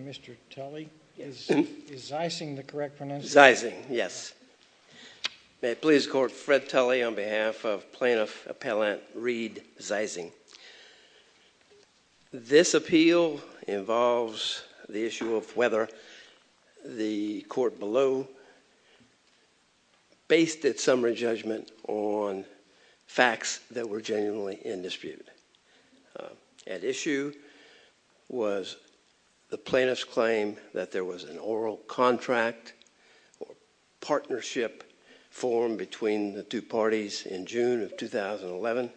Mr. Tully, is Zeising the correct pronunciation? Zeising, yes. May it please the court, Fred Tully on behalf of Plaintiff Appellant Reed Zeising. This appeal involves the issue of whether the court below based its summary judgment on facts that were genuinely in dispute. At issue was the plaintiff's claim that there was an oral contract or partnership formed between the two parties in June of 2011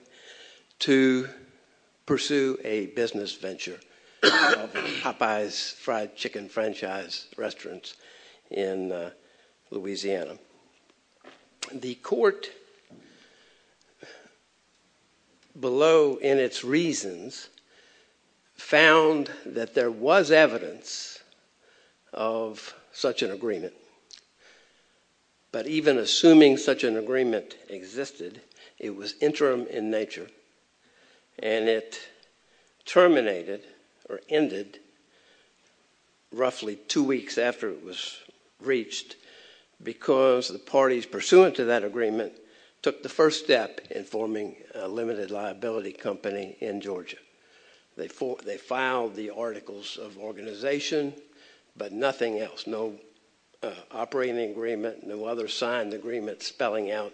to pursue a business venture of Popeyes fried chicken franchise restaurants in Louisiana. The court below in its reasons found that there was evidence of such an agreement. But even assuming such an agreement existed, it was interim in nature and it terminated or ended roughly two weeks after it was reached because the parties pursuant to that agreement took the first step in forming a limited liability company in Georgia. They filed the articles of organization but nothing else. No operating agreement, no other signed agreement spelling out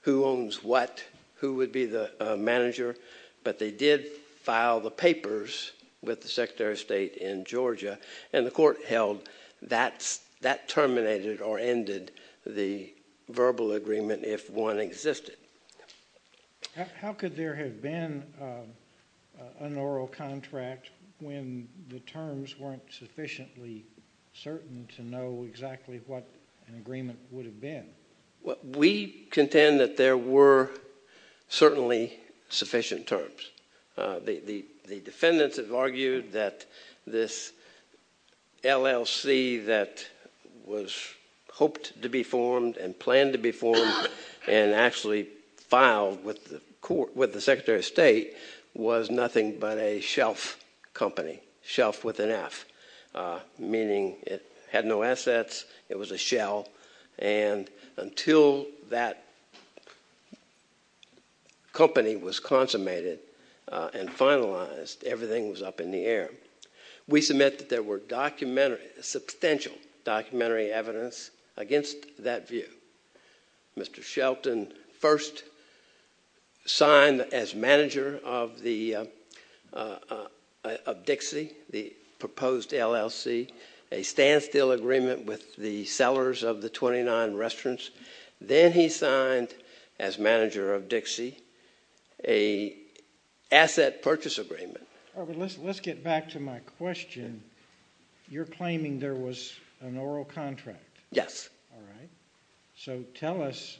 who owns what, who would be the manager. But they did file the papers with the Secretary of State in Georgia and the court held that terminated or ended the verbal agreement if one existed. How could there have been an oral contract when the terms weren't sufficiently certain to know exactly what an agreement would have been? We contend that there were certainly sufficient terms. The defendants have argued that this LLC that was hoped to be formed and planned to be formed and actually filed with the Secretary of State was nothing but a shelf company, shelf with an F, meaning it had no assets, it was a shell, and until that company was consummated and finalized, everything was up in the air. We submit that there were substantial documentary evidence against that view. Mr. Shelton first signed as manager of Dixie, the proposed LLC, a standstill agreement with the sellers of the 29 restaurants. Then he signed, as manager of Dixie, an asset purchase agreement. Let's get back to my question. You're claiming there was an oral contract. Yes. All right. So tell us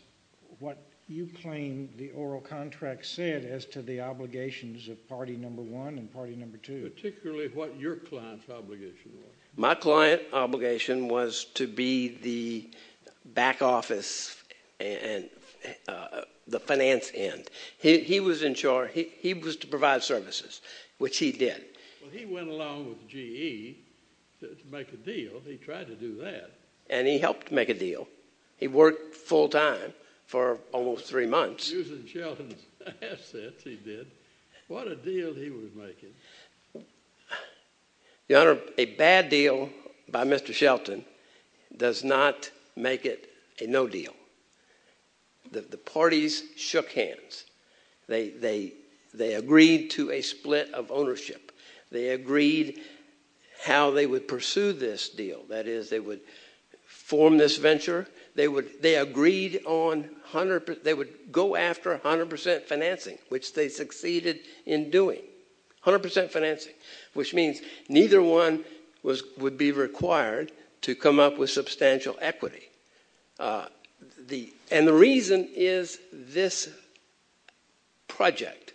what you claim the oral contract said as to the obligations of party number one and party number two. Particularly what your client's obligation was. My client's obligation was to be the back office and the finance end. He was to provide services, which he did. Well, he went along with GE to make a deal. He tried to do that. And he helped make a deal. He worked full time for almost three months. Using Shelton's assets, he did. What a deal he was making. Your Honor, a bad deal by Mr. Shelton does not make it a no deal. The parties shook hands. They agreed to a split of ownership. They agreed how they would pursue this deal. That is, they would form this venture. They would go after 100% financing, which they succeeded in doing. 100% financing. Which means neither one would be required to come up with substantial equity. And the reason is this project.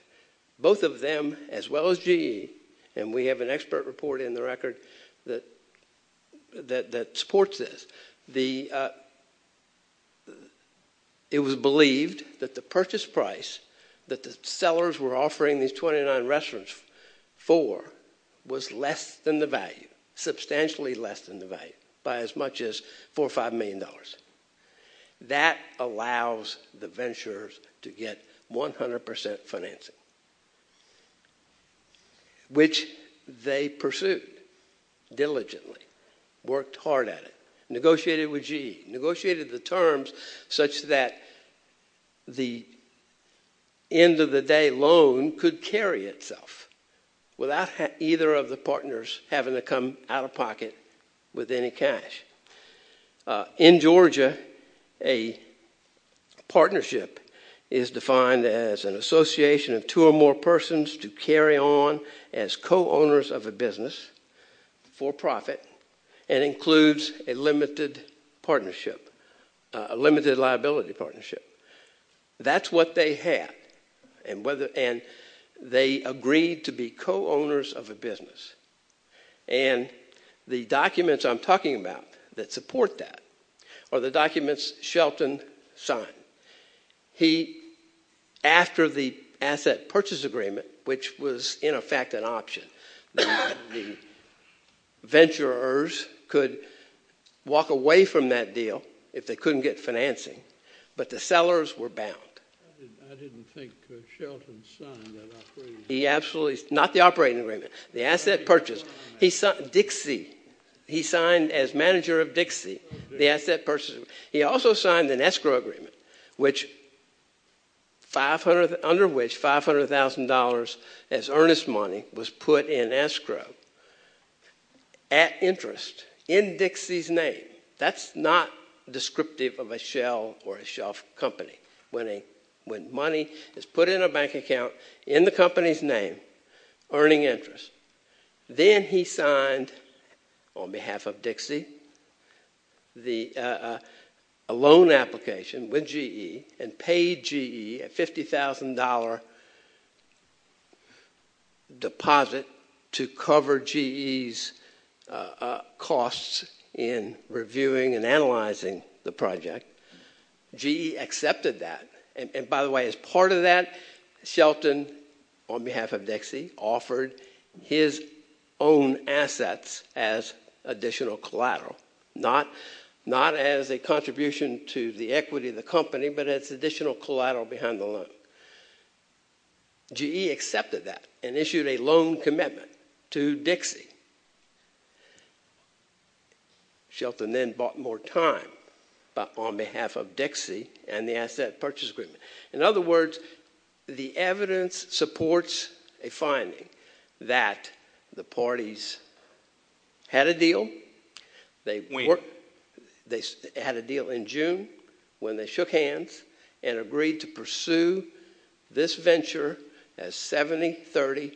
Both of them, as well as GE, and we have an expert report in the record that supports this. It was believed that the purchase price that the sellers were offering these 29 restaurants for was less than the value. Substantially less than the value. By as much as $4 or $5 million. That allows the ventures to get 100% financing, which they pursued diligently. Worked hard at it. Negotiated with GE. Negotiated the terms such that the end of the day loan could carry itself without either of the partners having to come out of pocket with any cash. In Georgia, a partnership is defined as an association of two or more persons to carry on as co-owners of a business for profit and includes a limited liability partnership. That's what they had. And they agreed to be co-owners of a business. And the documents I'm talking about that support that are the documents Shelton signed. After the asset purchase agreement, which was in effect an option, the ventures could walk away from that deal if they couldn't get financing, but the sellers were bound. I didn't think Shelton signed that operating agreement. Not the operating agreement. The asset purchase. Dixie. He signed as manager of Dixie the asset purchase agreement. He also signed an escrow agreement under which $500,000 as earnest money was put in escrow at interest in Dixie's name. That's not descriptive of a shell or a shelf company. When money is put in a bank account in the company's name, earning interest. Then he signed, on behalf of Dixie, a loan application with GE and paid GE a $50,000 deposit to cover GE's costs in reviewing and analyzing the project. GE accepted that. And by the way, as part of that, Shelton, on behalf of Dixie, offered his own assets as additional collateral. Not as a contribution to the equity of the company, but as additional collateral behind the loan. GE accepted that and issued a loan commitment to Dixie. Shelton then bought more time on behalf of Dixie and the asset purchase agreement. In other words, the evidence supports a finding that the parties had a deal. They had a deal in June when they shook hands and agreed to pursue this venture as 70-30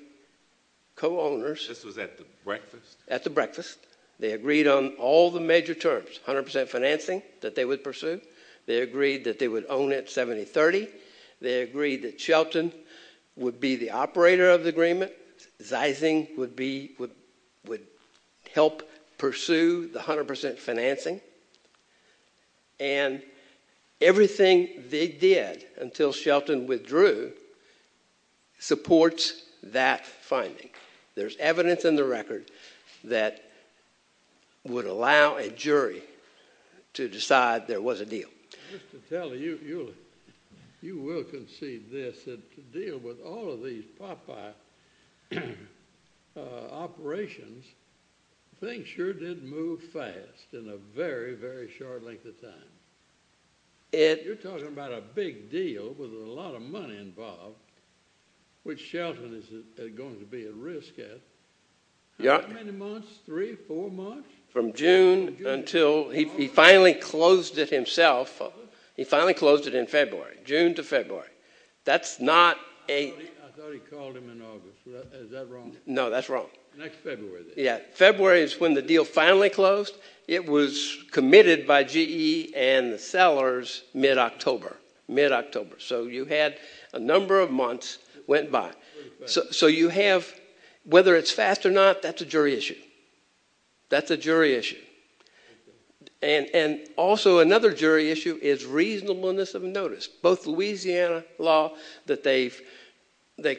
co-owners. This was at the breakfast? At the breakfast. They agreed on all the major terms. 100% financing that they would pursue. They agreed that they would own it 70-30. They agreed that Shelton would be the operator of the agreement. Zeising would help pursue the 100% financing. And everything they did until Shelton withdrew supports that finding. There's evidence in the record that would allow a jury to decide there was a deal. Just to tell you, you will concede this, that to deal with all of these Popeye operations, things sure did move fast in a very, very short length of time. You're talking about a big deal with a lot of money involved, which Shelton is going to be at risk at. How many months? Three, four months? From June until he finally closed it himself. He finally closed it in February. June to February. I thought he called him in August. Is that wrong? No, that's wrong. Next February then. February is when the deal finally closed. It was committed by GE and the sellers mid-October. Mid-October. So you had a number of months that went by. So you have, whether it's fast or not, that's a jury issue. That's a jury issue. And also another jury issue is reasonableness of notice. Both Louisiana law that they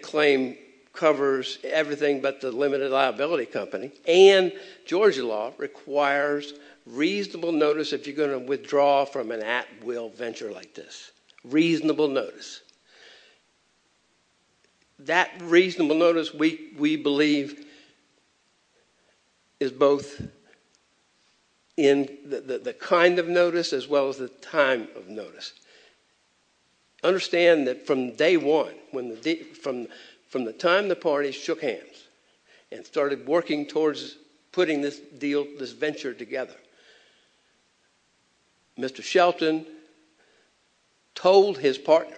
claim covers everything but the limited liability company and Georgia law requires reasonable notice if you're going to withdraw from an at-will venture like this. Reasonable notice. That reasonable notice, we believe, is both in the kind of notice as well as the time of notice. Understand that from day one, from the time the parties shook hands and started working towards putting this deal, this venture together, Mr. Shelton told his partner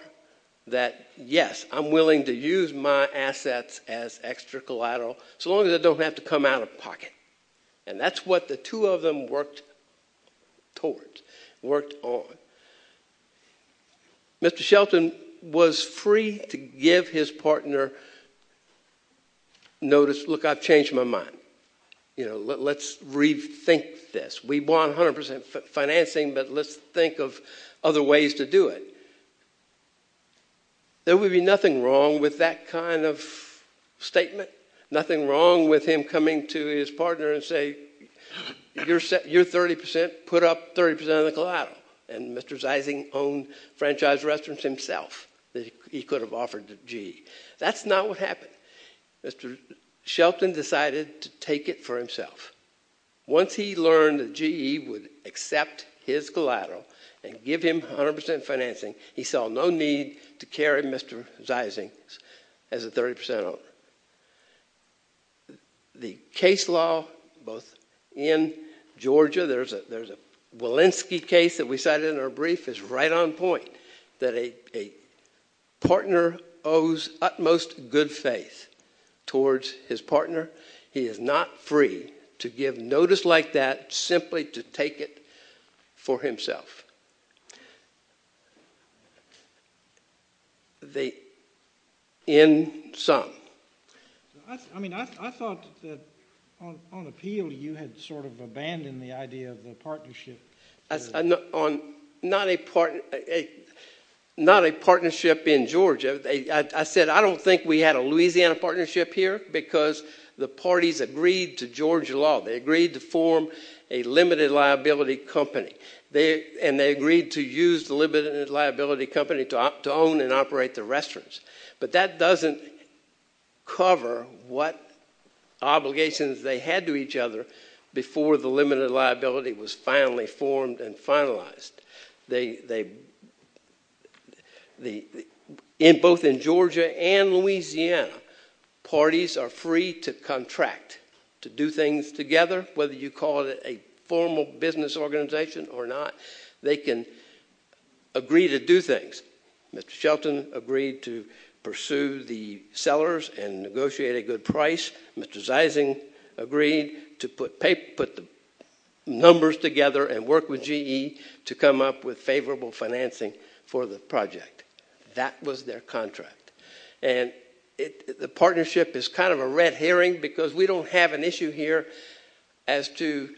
that, yes, I'm willing to use my assets as extracollateral so long as I don't have to come out of pocket. And that's what the two of them worked towards, worked on. Mr. Shelton was free to give his partner notice, look, I've changed my mind. Let's rethink this. We want 100% financing, but let's think of other ways to do it. There would be nothing wrong with that kind of statement, nothing wrong with him coming to his partner and saying, you're 30%, put up 30% of the collateral. And Mr. Zeising owned franchise restaurants himself that he could have offered to GE. That's not what happened. Mr. Shelton decided to take it for himself. Once he learned that GE would accept his collateral and give him 100% financing, he saw no need to carry Mr. Zeising as a 30% owner. The case law, both in Georgia, there's a Walensky case that we cited in our brief, is right on point that a partner owes utmost good faith towards his partner. He is not free to give notice like that simply to take it for himself. The end sum. I mean, I thought that on appeal you had sort of abandoned the idea of the partnership. Not a partnership in Georgia. I said I don't think we had a Louisiana partnership here because the parties agreed to Georgia law. They agreed to form a limited liability company, and they agreed to use the limited liability company to own and operate the restaurants. But that doesn't cover what obligations they had to each other before the limited liability was finally formed and finalized. Both in Georgia and Louisiana, parties are free to contract, to do things together, whether you call it a formal business organization or not. They can agree to do things. Mr. Shelton agreed to pursue the sellers and negotiate a good price. Mr. Zeising agreed to put the numbers together and work with GE to come up with favorable financing for the project. That was their contract. And the partnership is kind of a red herring because we don't have an issue here as to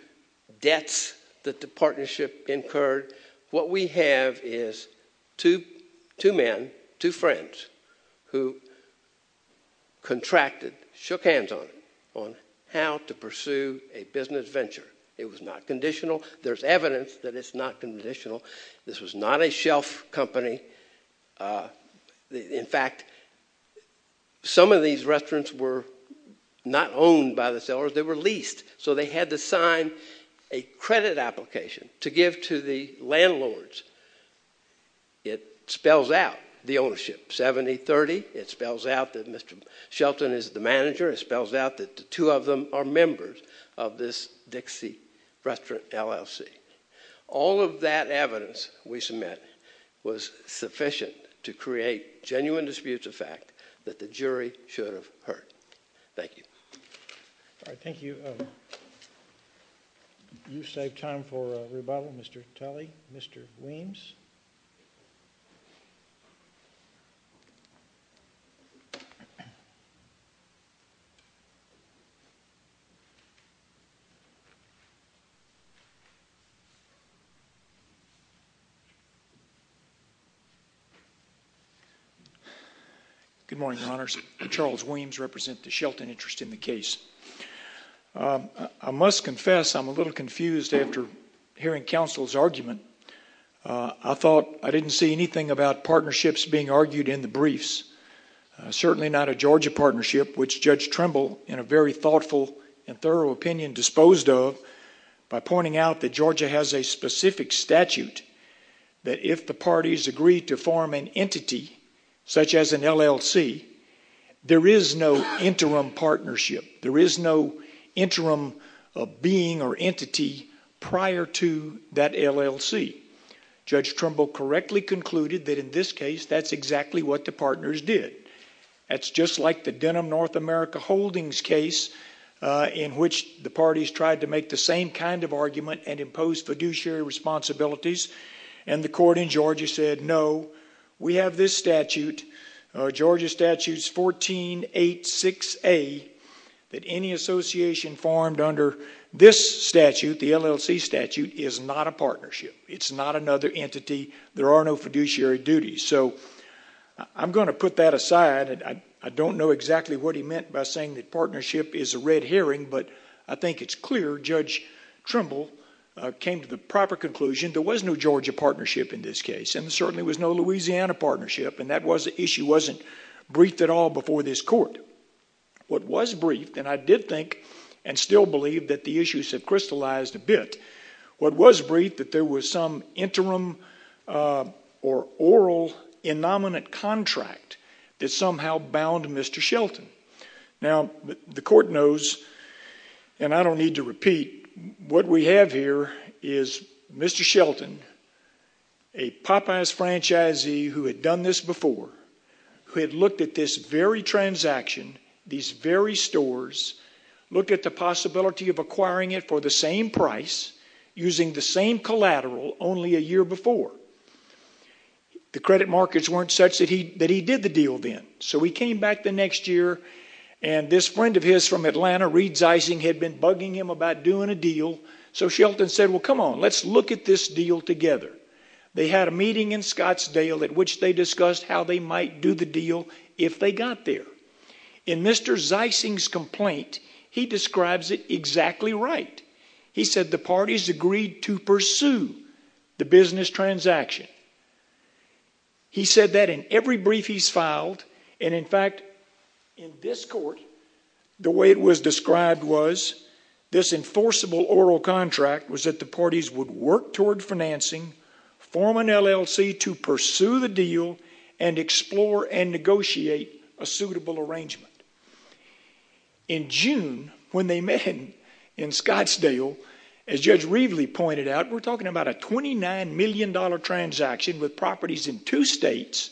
debts that the partnership incurred. What we have is two men, two friends, who contracted, shook hands on it, on how to pursue a business venture. It was not conditional. There's evidence that it's not conditional. This was not a shelf company. In fact, some of these restaurants were not owned by the sellers. They were leased, so they had to sign a credit application to give to the landlords. It spells out the ownership, 70-30. It spells out that Mr. Shelton is the manager. It spells out that the two of them are members of this Dixie Restaurant LLC. All of that evidence we submit was sufficient to create genuine disputes of fact that the jury should have heard. Thank you. All right, thank you. You saved time for a rebuttal, Mr. Talley. Mr. Weems. Good morning, Your Honors. Charles Weems represent the Shelton interest in the case. I must confess I'm a little confused after hearing counsel's argument. I thought I didn't see anything about partnerships being argued in the briefs, certainly not a Georgia partnership, which Judge Trimble, in a very thoughtful and thorough opinion, disposed of by pointing out that Georgia has a specific statute that if the parties agree to form an entity such as an LLC, there is no interim partnership. There is no interim being or entity prior to that LLC. Judge Trimble correctly concluded that in this case, that's exactly what the partners did. That's just like the Denim North America Holdings case in which the parties tried to make the same kind of argument and impose fiduciary responsibilities, and the court in Georgia said, no, we have this statute, Georgia Statute 1486A, that any association formed under this statute, the LLC statute, is not a partnership. It's not another entity. There are no fiduciary duties. I'm going to put that aside. I don't know exactly what he meant by saying that partnership is a red herring, but I think it's clear Judge Trimble came to the proper conclusion there was no Georgia partnership in this case, and there certainly was no Louisiana partnership, and that issue wasn't briefed at all before this court. What was briefed, and I did think and still believe that the issues have crystallized a bit, what was briefed that there was some interim or oral innominate contract that somehow bound Mr. Shelton. Now, the court knows, and I don't need to repeat, what we have here is Mr. Shelton, a Popeyes franchisee who had done this before, who had looked at this very transaction, these very stores, looked at the possibility of acquiring it for the same price using the same collateral only a year before. The credit markets weren't such that he did the deal then, so he came back the next year, and this friend of his from Atlanta, Reed Zeising, had been bugging him about doing a deal, so Shelton said, well, come on, let's look at this deal together. They had a meeting in Scottsdale at which they discussed how they might do the deal if they got there. In Mr. Zeising's complaint, he describes it exactly right. He said the parties agreed to pursue the business transaction. He said that in every brief he's filed, and in fact, in this court, the way it was described was this enforceable oral contract was that the parties would work toward financing, form an LLC to pursue the deal, and explore and negotiate a suitable arrangement. In June, when they met in Scottsdale, as Judge Reveley pointed out, we're talking about a $29 million transaction with properties in two states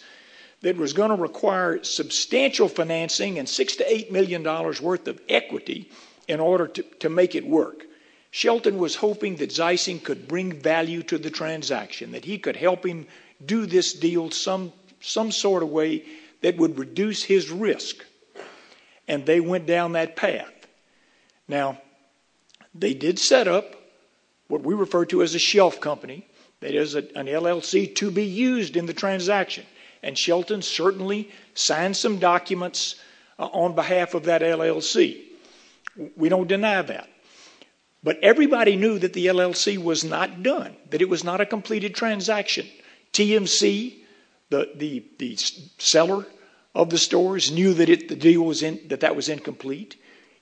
that was going to require substantial financing and $6 million to $8 million worth of equity in order to make it work. Shelton was hoping that Zeising could bring value to the transaction, that he could help him do this deal some sort of way that would reduce his risk, and they went down that path. Now, they did set up what we refer to as a shelf company, that is, an LLC to be used in the transaction, and Shelton certainly signed some documents on behalf of that LLC. We don't deny that. But everybody knew that the LLC was not done, that it was not a completed transaction. TMC, the seller of the stores, knew that that was incomplete.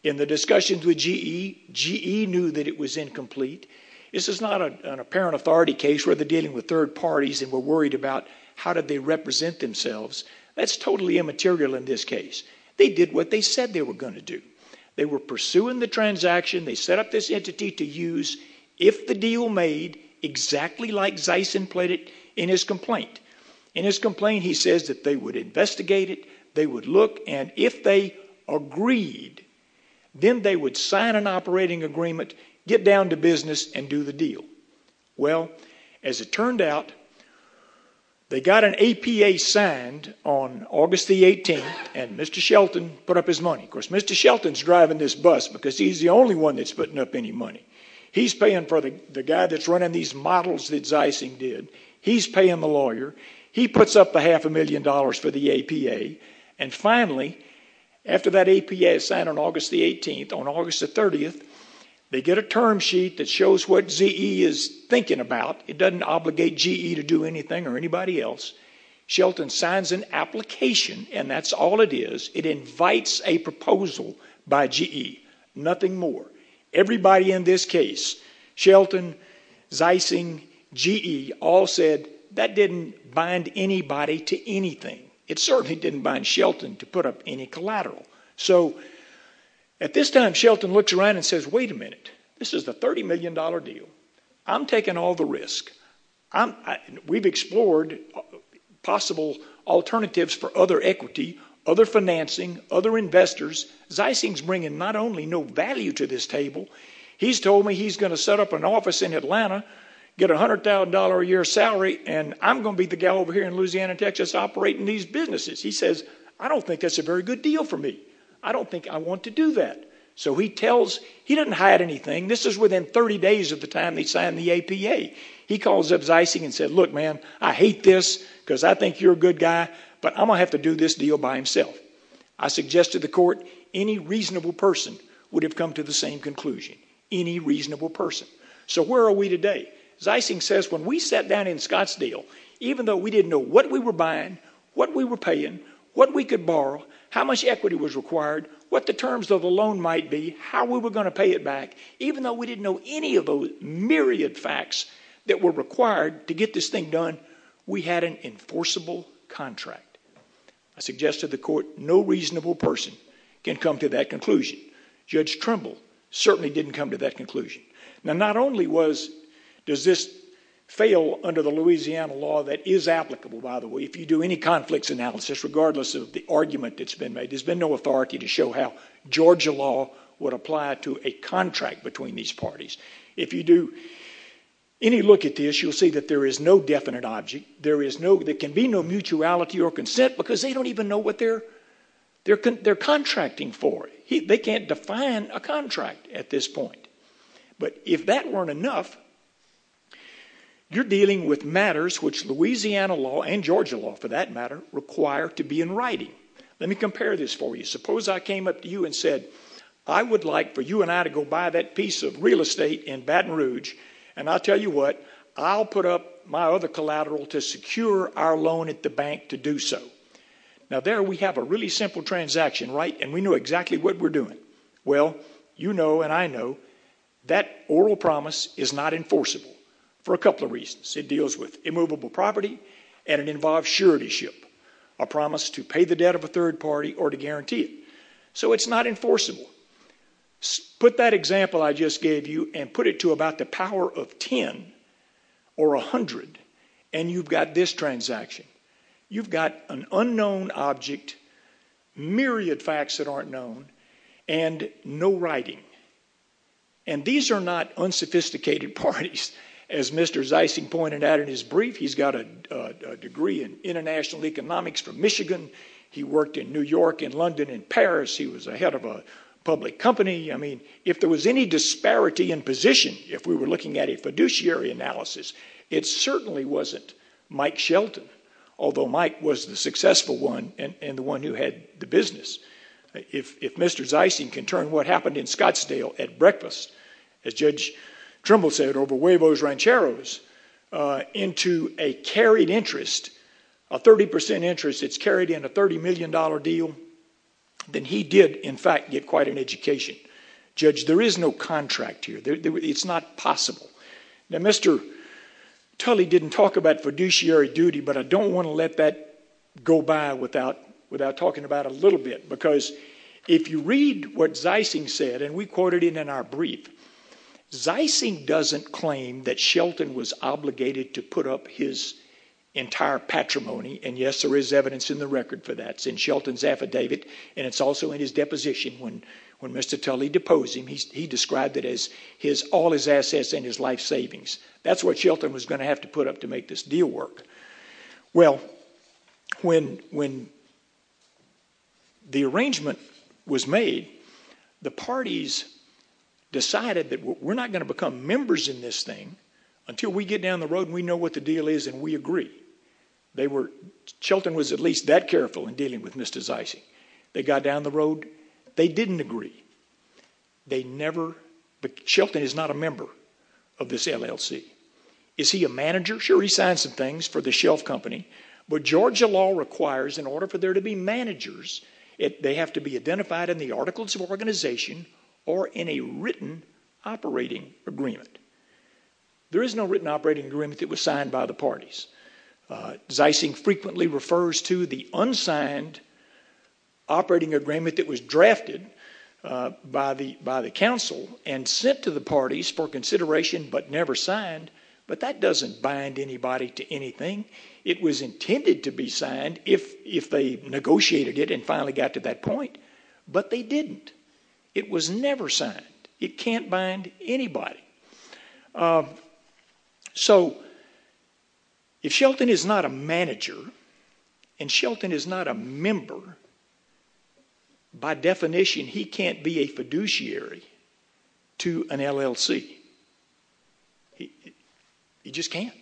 In the discussions with GE, GE knew that it was incomplete. This is not an apparent authority case. We're dealing with third parties, and we're worried about how did they represent themselves. That's totally immaterial in this case. They did what they said they were going to do. They were pursuing the transaction. They set up this entity to use if the deal made, exactly like Zeising played it in his complaint. In his complaint, he says that they would investigate it, they would look, and if they agreed, then they would sign an operating agreement, get down to business, and do the deal. As it turned out, they got an APA signed on August the 18th, and Mr. Shelton put up his money. Of course, Mr. Shelton's driving this bus because he's the only one that's putting up any money. He's paying for the guy that's running these models that Zeising did. He's paying the lawyer. He puts up the half a million dollars for the APA. Finally, after that APA is signed on August the 18th, on August the 30th, they get a term sheet that shows what Ze is thinking about. It doesn't obligate GE to do anything or anybody else. Shelton signs an application, and that's all it is. It invites a proposal by GE. Nothing more. Everybody in this case, Shelton, Zeising, GE, all said that didn't bind anybody to anything. It certainly didn't bind Shelton to put up any collateral. At this time, Shelton looks around and says, wait a minute, this is the $30 million deal. I'm taking all the risk. We've explored possible alternatives for other equity, other financing, other investors. Zeising's bringing not only no value to this table, he's told me he's going to set up an office in Atlanta, get a $100,000 a year salary, and I'm going to be the gal over here in Louisiana, Texas, operating these businesses. He says, I don't think that's a very good deal for me. I don't think I want to do that. So he tells, he doesn't hide anything. This is within 30 days of the time they signed the APA. He calls up Zeising and said, look, man, I hate this because I think you're a good guy, but I'm going to have to do this deal by himself. I suggested to the court any reasonable person would have come to the same conclusion, any reasonable person. So where are we today? Zeising says when we sat down in Scott's deal, even though we didn't know what we were buying, what we were paying, what we could borrow, how much equity was required, what the terms of the loan might be, how we were going to pay it back, even though we didn't know any of the myriad facts that were required to get this thing done, we had an enforceable contract. I suggested to the court no reasonable person can come to that conclusion. Judge Trimble certainly didn't come to that conclusion. Now, not only does this fail under the Louisiana law that is applicable, by the way, if you do any conflicts analysis, regardless of the argument that's been made, there's been no authority to show how Georgia law would apply to a contract between these parties. If you do any look at this, you'll see that there is no definite object. There can be no mutuality or consent because they don't even know what they're contracting for. They can't define a contract at this point. But if that weren't enough, you're dealing with matters which Louisiana law and Georgia law, for that matter, require to be in writing. Let me compare this for you. Suppose I came up to you and said, I would like for you and I to go buy that piece of real estate in Baton Rouge, and I'll tell you what, I'll put up my other collateral to secure our loan at the bank to do so. Now, there we have a really simple transaction, right, and we know exactly what we're doing. Well, you know and I know that that oral promise is not enforceable for a couple of reasons. It deals with immovable property and it involves suretyship, a promise to pay the debt of a third party or to guarantee it. So it's not enforceable. Put that example I just gave you and put it to about the power of 10 or 100 and you've got this transaction. You've got an unknown object, myriad facts that aren't known, and no writing. And these are not unsophisticated parties. As Mr. Zeissing pointed out in his brief, he's got a degree in international economics from Michigan. He worked in New York and London and Paris. He was a head of a public company. I mean, if there was any disparity in position, if we were looking at a fiduciary analysis, it certainly wasn't Mike Shelton, although Mike was the successful one and the one who had the business. If Mr. Zeissing can turn what happened in Scottsdale at breakfast, as Judge Trimble said, over huevos rancheros, into a carried interest, a 30% interest that's carried in a $30 million deal, then he did, in fact, get quite an education. Judge, there is no contract here. It's not possible. Now, Mr. Tully didn't talk about fiduciary duty, but I don't want to let that go by without talking about it a little bit, because if you read what Zeissing said, and we quoted it in our brief, Zeissing doesn't claim that Shelton was obligated to put up his entire patrimony, and yes, there is evidence in the record for that. It's in Shelton's affidavit, and it's also in his deposition when Mr. Tully deposed him. He described it as all his assets and his life savings. That's what Shelton was going to have to put up to make this deal work. Well, when the arrangement was made, the parties decided that we're not going to become members in this thing until we get down the road and we know what the deal is and we agree. Shelton was at least that careful in dealing with Mr. Zeissing. They got down the road. They didn't agree. They never... Shelton is not a member of this LLC. Is he a manager? Sure, he signs some things for the shelf company, but Georgia law requires in order for there to be managers, they have to be identified in the Articles of Organization or in a written operating agreement. There is no written operating agreement that was signed by the parties. Zeissing frequently refers to the unsigned operating agreement that was drafted by the council and sent to the parties for consideration but never signed, but that doesn't bind anybody to anything. It was intended to be signed if they negotiated it and finally got to that point, but they didn't. It was never signed. It can't bind anybody. So if Shelton is not a manager and Shelton is not a member, by definition he can't be a fiduciary to an LLC. He just can't.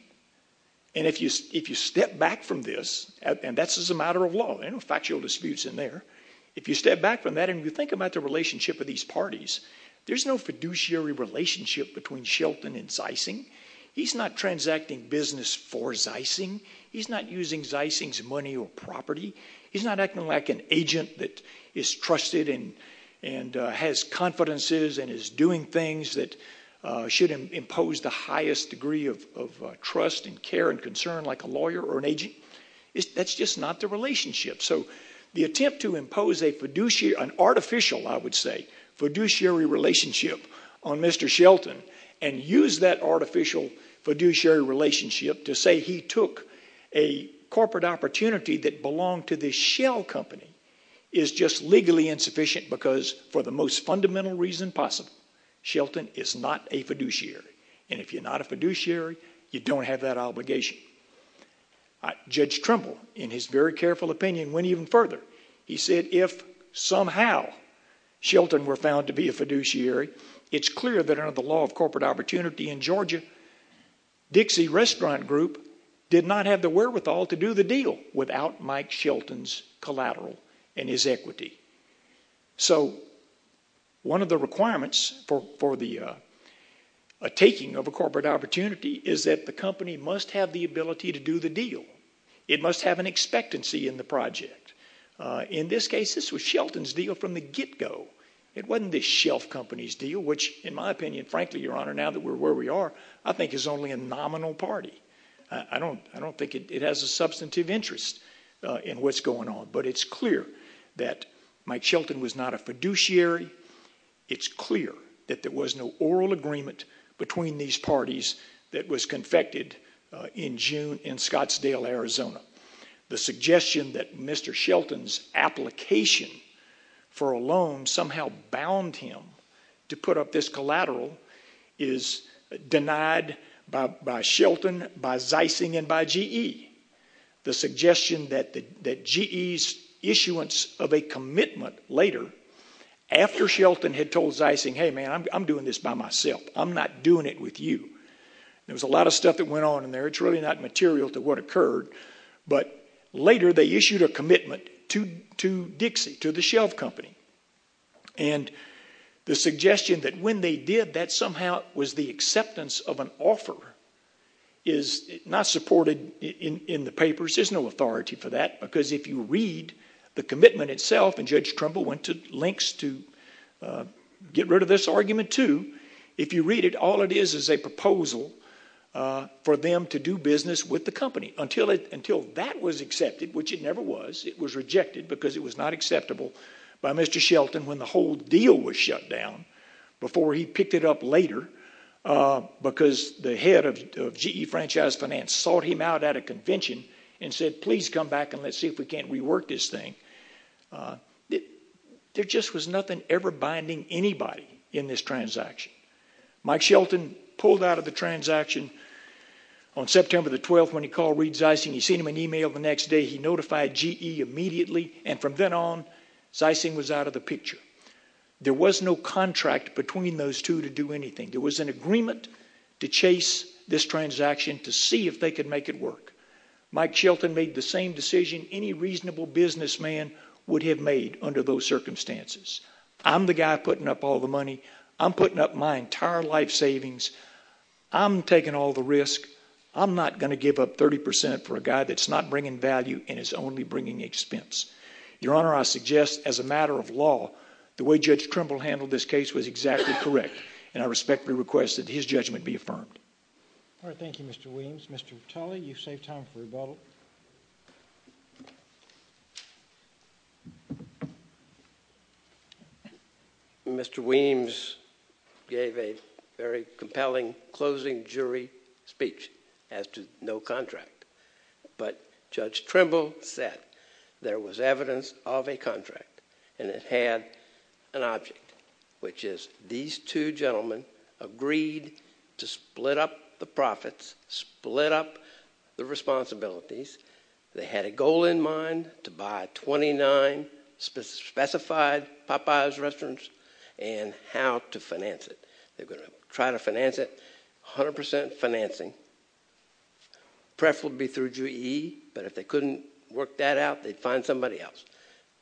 And if you step back from this, and this is a matter of law. There are no factual disputes in there. If you step back from that and you think about the relationship of these parties, there's no fiduciary relationship between Shelton and Zeissing. He's not transacting business for Zeissing. He's not using Zeissing's money or property. He's not acting like an agent that is trusted and has confidences and is doing things that should impose the highest degree of trust and care and concern like a lawyer or an agent. That's just not the relationship. So the attempt to impose an artificial, I would say, fiduciary relationship on Mr. Shelton and use that artificial fiduciary relationship to say he took a corporate opportunity that belonged to this shell company is just legally insufficient because, for the most fundamental reason possible, Shelton is not a fiduciary. And if you're not a fiduciary, you don't have that obligation. Judge Trimble, in his very careful opinion, went even further. He said if somehow Shelton were found to be a fiduciary, it's clear that under the law of corporate opportunity in Georgia, Dixie Restaurant Group did not have the wherewithal to do the deal without Mike Shelton's collateral and his equity. So one of the requirements for the taking of a corporate opportunity is that the company must have the ability to do the deal. It must have an expectancy in the project. In this case, this was Shelton's deal from the get-go. It wasn't this shelf company's deal, which, in my opinion, frankly, Your Honor, now that we're where we are, I think is only a nominal party. I don't think it has a substantive interest in what's going on, but it's clear that Mike Shelton was not a fiduciary. It's clear that there was no oral agreement between these parties that was confected in Scottsdale, Arizona. The suggestion that Mr. Shelton's application for a loan somehow bound him to put up this collateral is denied by Shelton, by Zeising, and by GE. The suggestion that GE's issuance of a commitment later, after Shelton had told Zeising, hey, man, I'm doing this by myself, I'm not doing it with you. There was a lot of stuff that went on in there. It's really not material to what occurred. But later they issued a commitment to Dixie, to the shelf company. And the suggestion that when they did, that somehow was the acceptance of an offer is not supported in the papers. There's no authority for that, because if you read the commitment itself, and Judge Trumbull went to lengths to get rid of this argument too, if you read it, all it is is a proposal for them to do business with the company. Until that was accepted, which it never was, it was rejected because it was not acceptable by Mr. Shelton when the whole deal was shut down, before he picked it up later, because the head of GE Franchise Finance sought him out at a convention and said, please come back and let's see if we can't rework this thing. There just was nothing ever binding anybody in this transaction. Mike Shelton pulled out of the transaction on September 12th when he called Reed Zeising, he sent him an email the next day, he notified GE immediately, and from then on, Zeising was out of the picture. There was no contract between those two to do anything. There was an agreement to chase this transaction to see if they could make it work. Mike Shelton made the same decision any reasonable businessman would have made under those circumstances. I'm the guy putting up all the money. I'm putting up my entire life savings. I'm taking all the risk. I'm not going to give up 30% for a guy that's not bringing value and is only bringing expense. Your Honor, I suggest, as a matter of law, the way Judge Trumbull handled this case was exactly correct, and I respectfully request that his judgment be affirmed. All right, thank you, Mr. Weems. Mr. Tully, you've saved time for rebuttal. Mr. Weems gave a very compelling closing jury speech as to no contract, but Judge Trumbull said there was evidence of a contract and it had an object, which is these two gentlemen agreed to split up the profits, split up the responsibilities. They had a goal in mind to buy 29 specified Popeye's restaurants and how to finance it. They're going to try to finance it 100% financing, preferably through GE, but if they couldn't work that out, they'd find somebody else.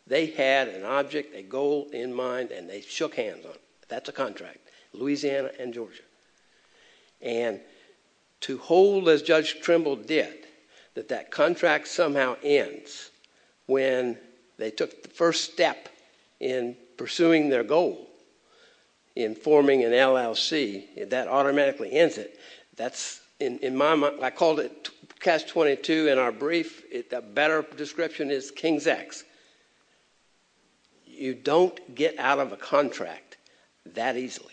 They had an object, a goal in mind, and they shook hands on it. That's a contract, Louisiana and Georgia. And to hold, as Judge Trumbull did, that that contract somehow ends when they took the first step in pursuing their goal in forming an LLC, that automatically ends it. That's, in my mind... I called it Catch-22 in our brief. A better description is King's X. You don't get out of a contract that easily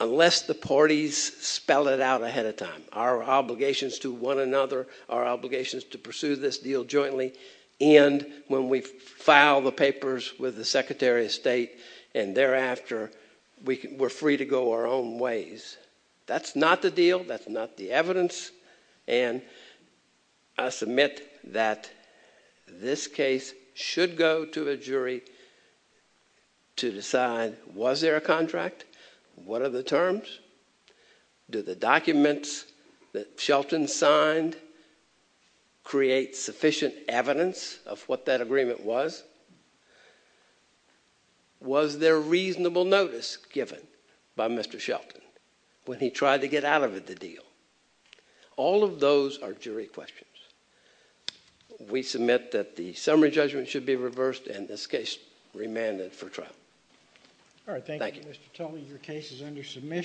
unless the parties spell it out ahead of time. Our obligations to one another, our obligations to pursue this deal jointly, end when we file the papers with the Secretary of State and thereafter we're free to go our own ways. That's not the deal, that's not the evidence, and I submit that this case should go to a jury to decide, was there a contract? What are the terms? Do the documents that Shelton signed create sufficient evidence of what that agreement was? Was there reasonable notice given by Mr. Shelton when he tried to get out of the deal? All of those are jury questions. We submit that the summary judgment should be reversed and this case remanded for trial. Thank you.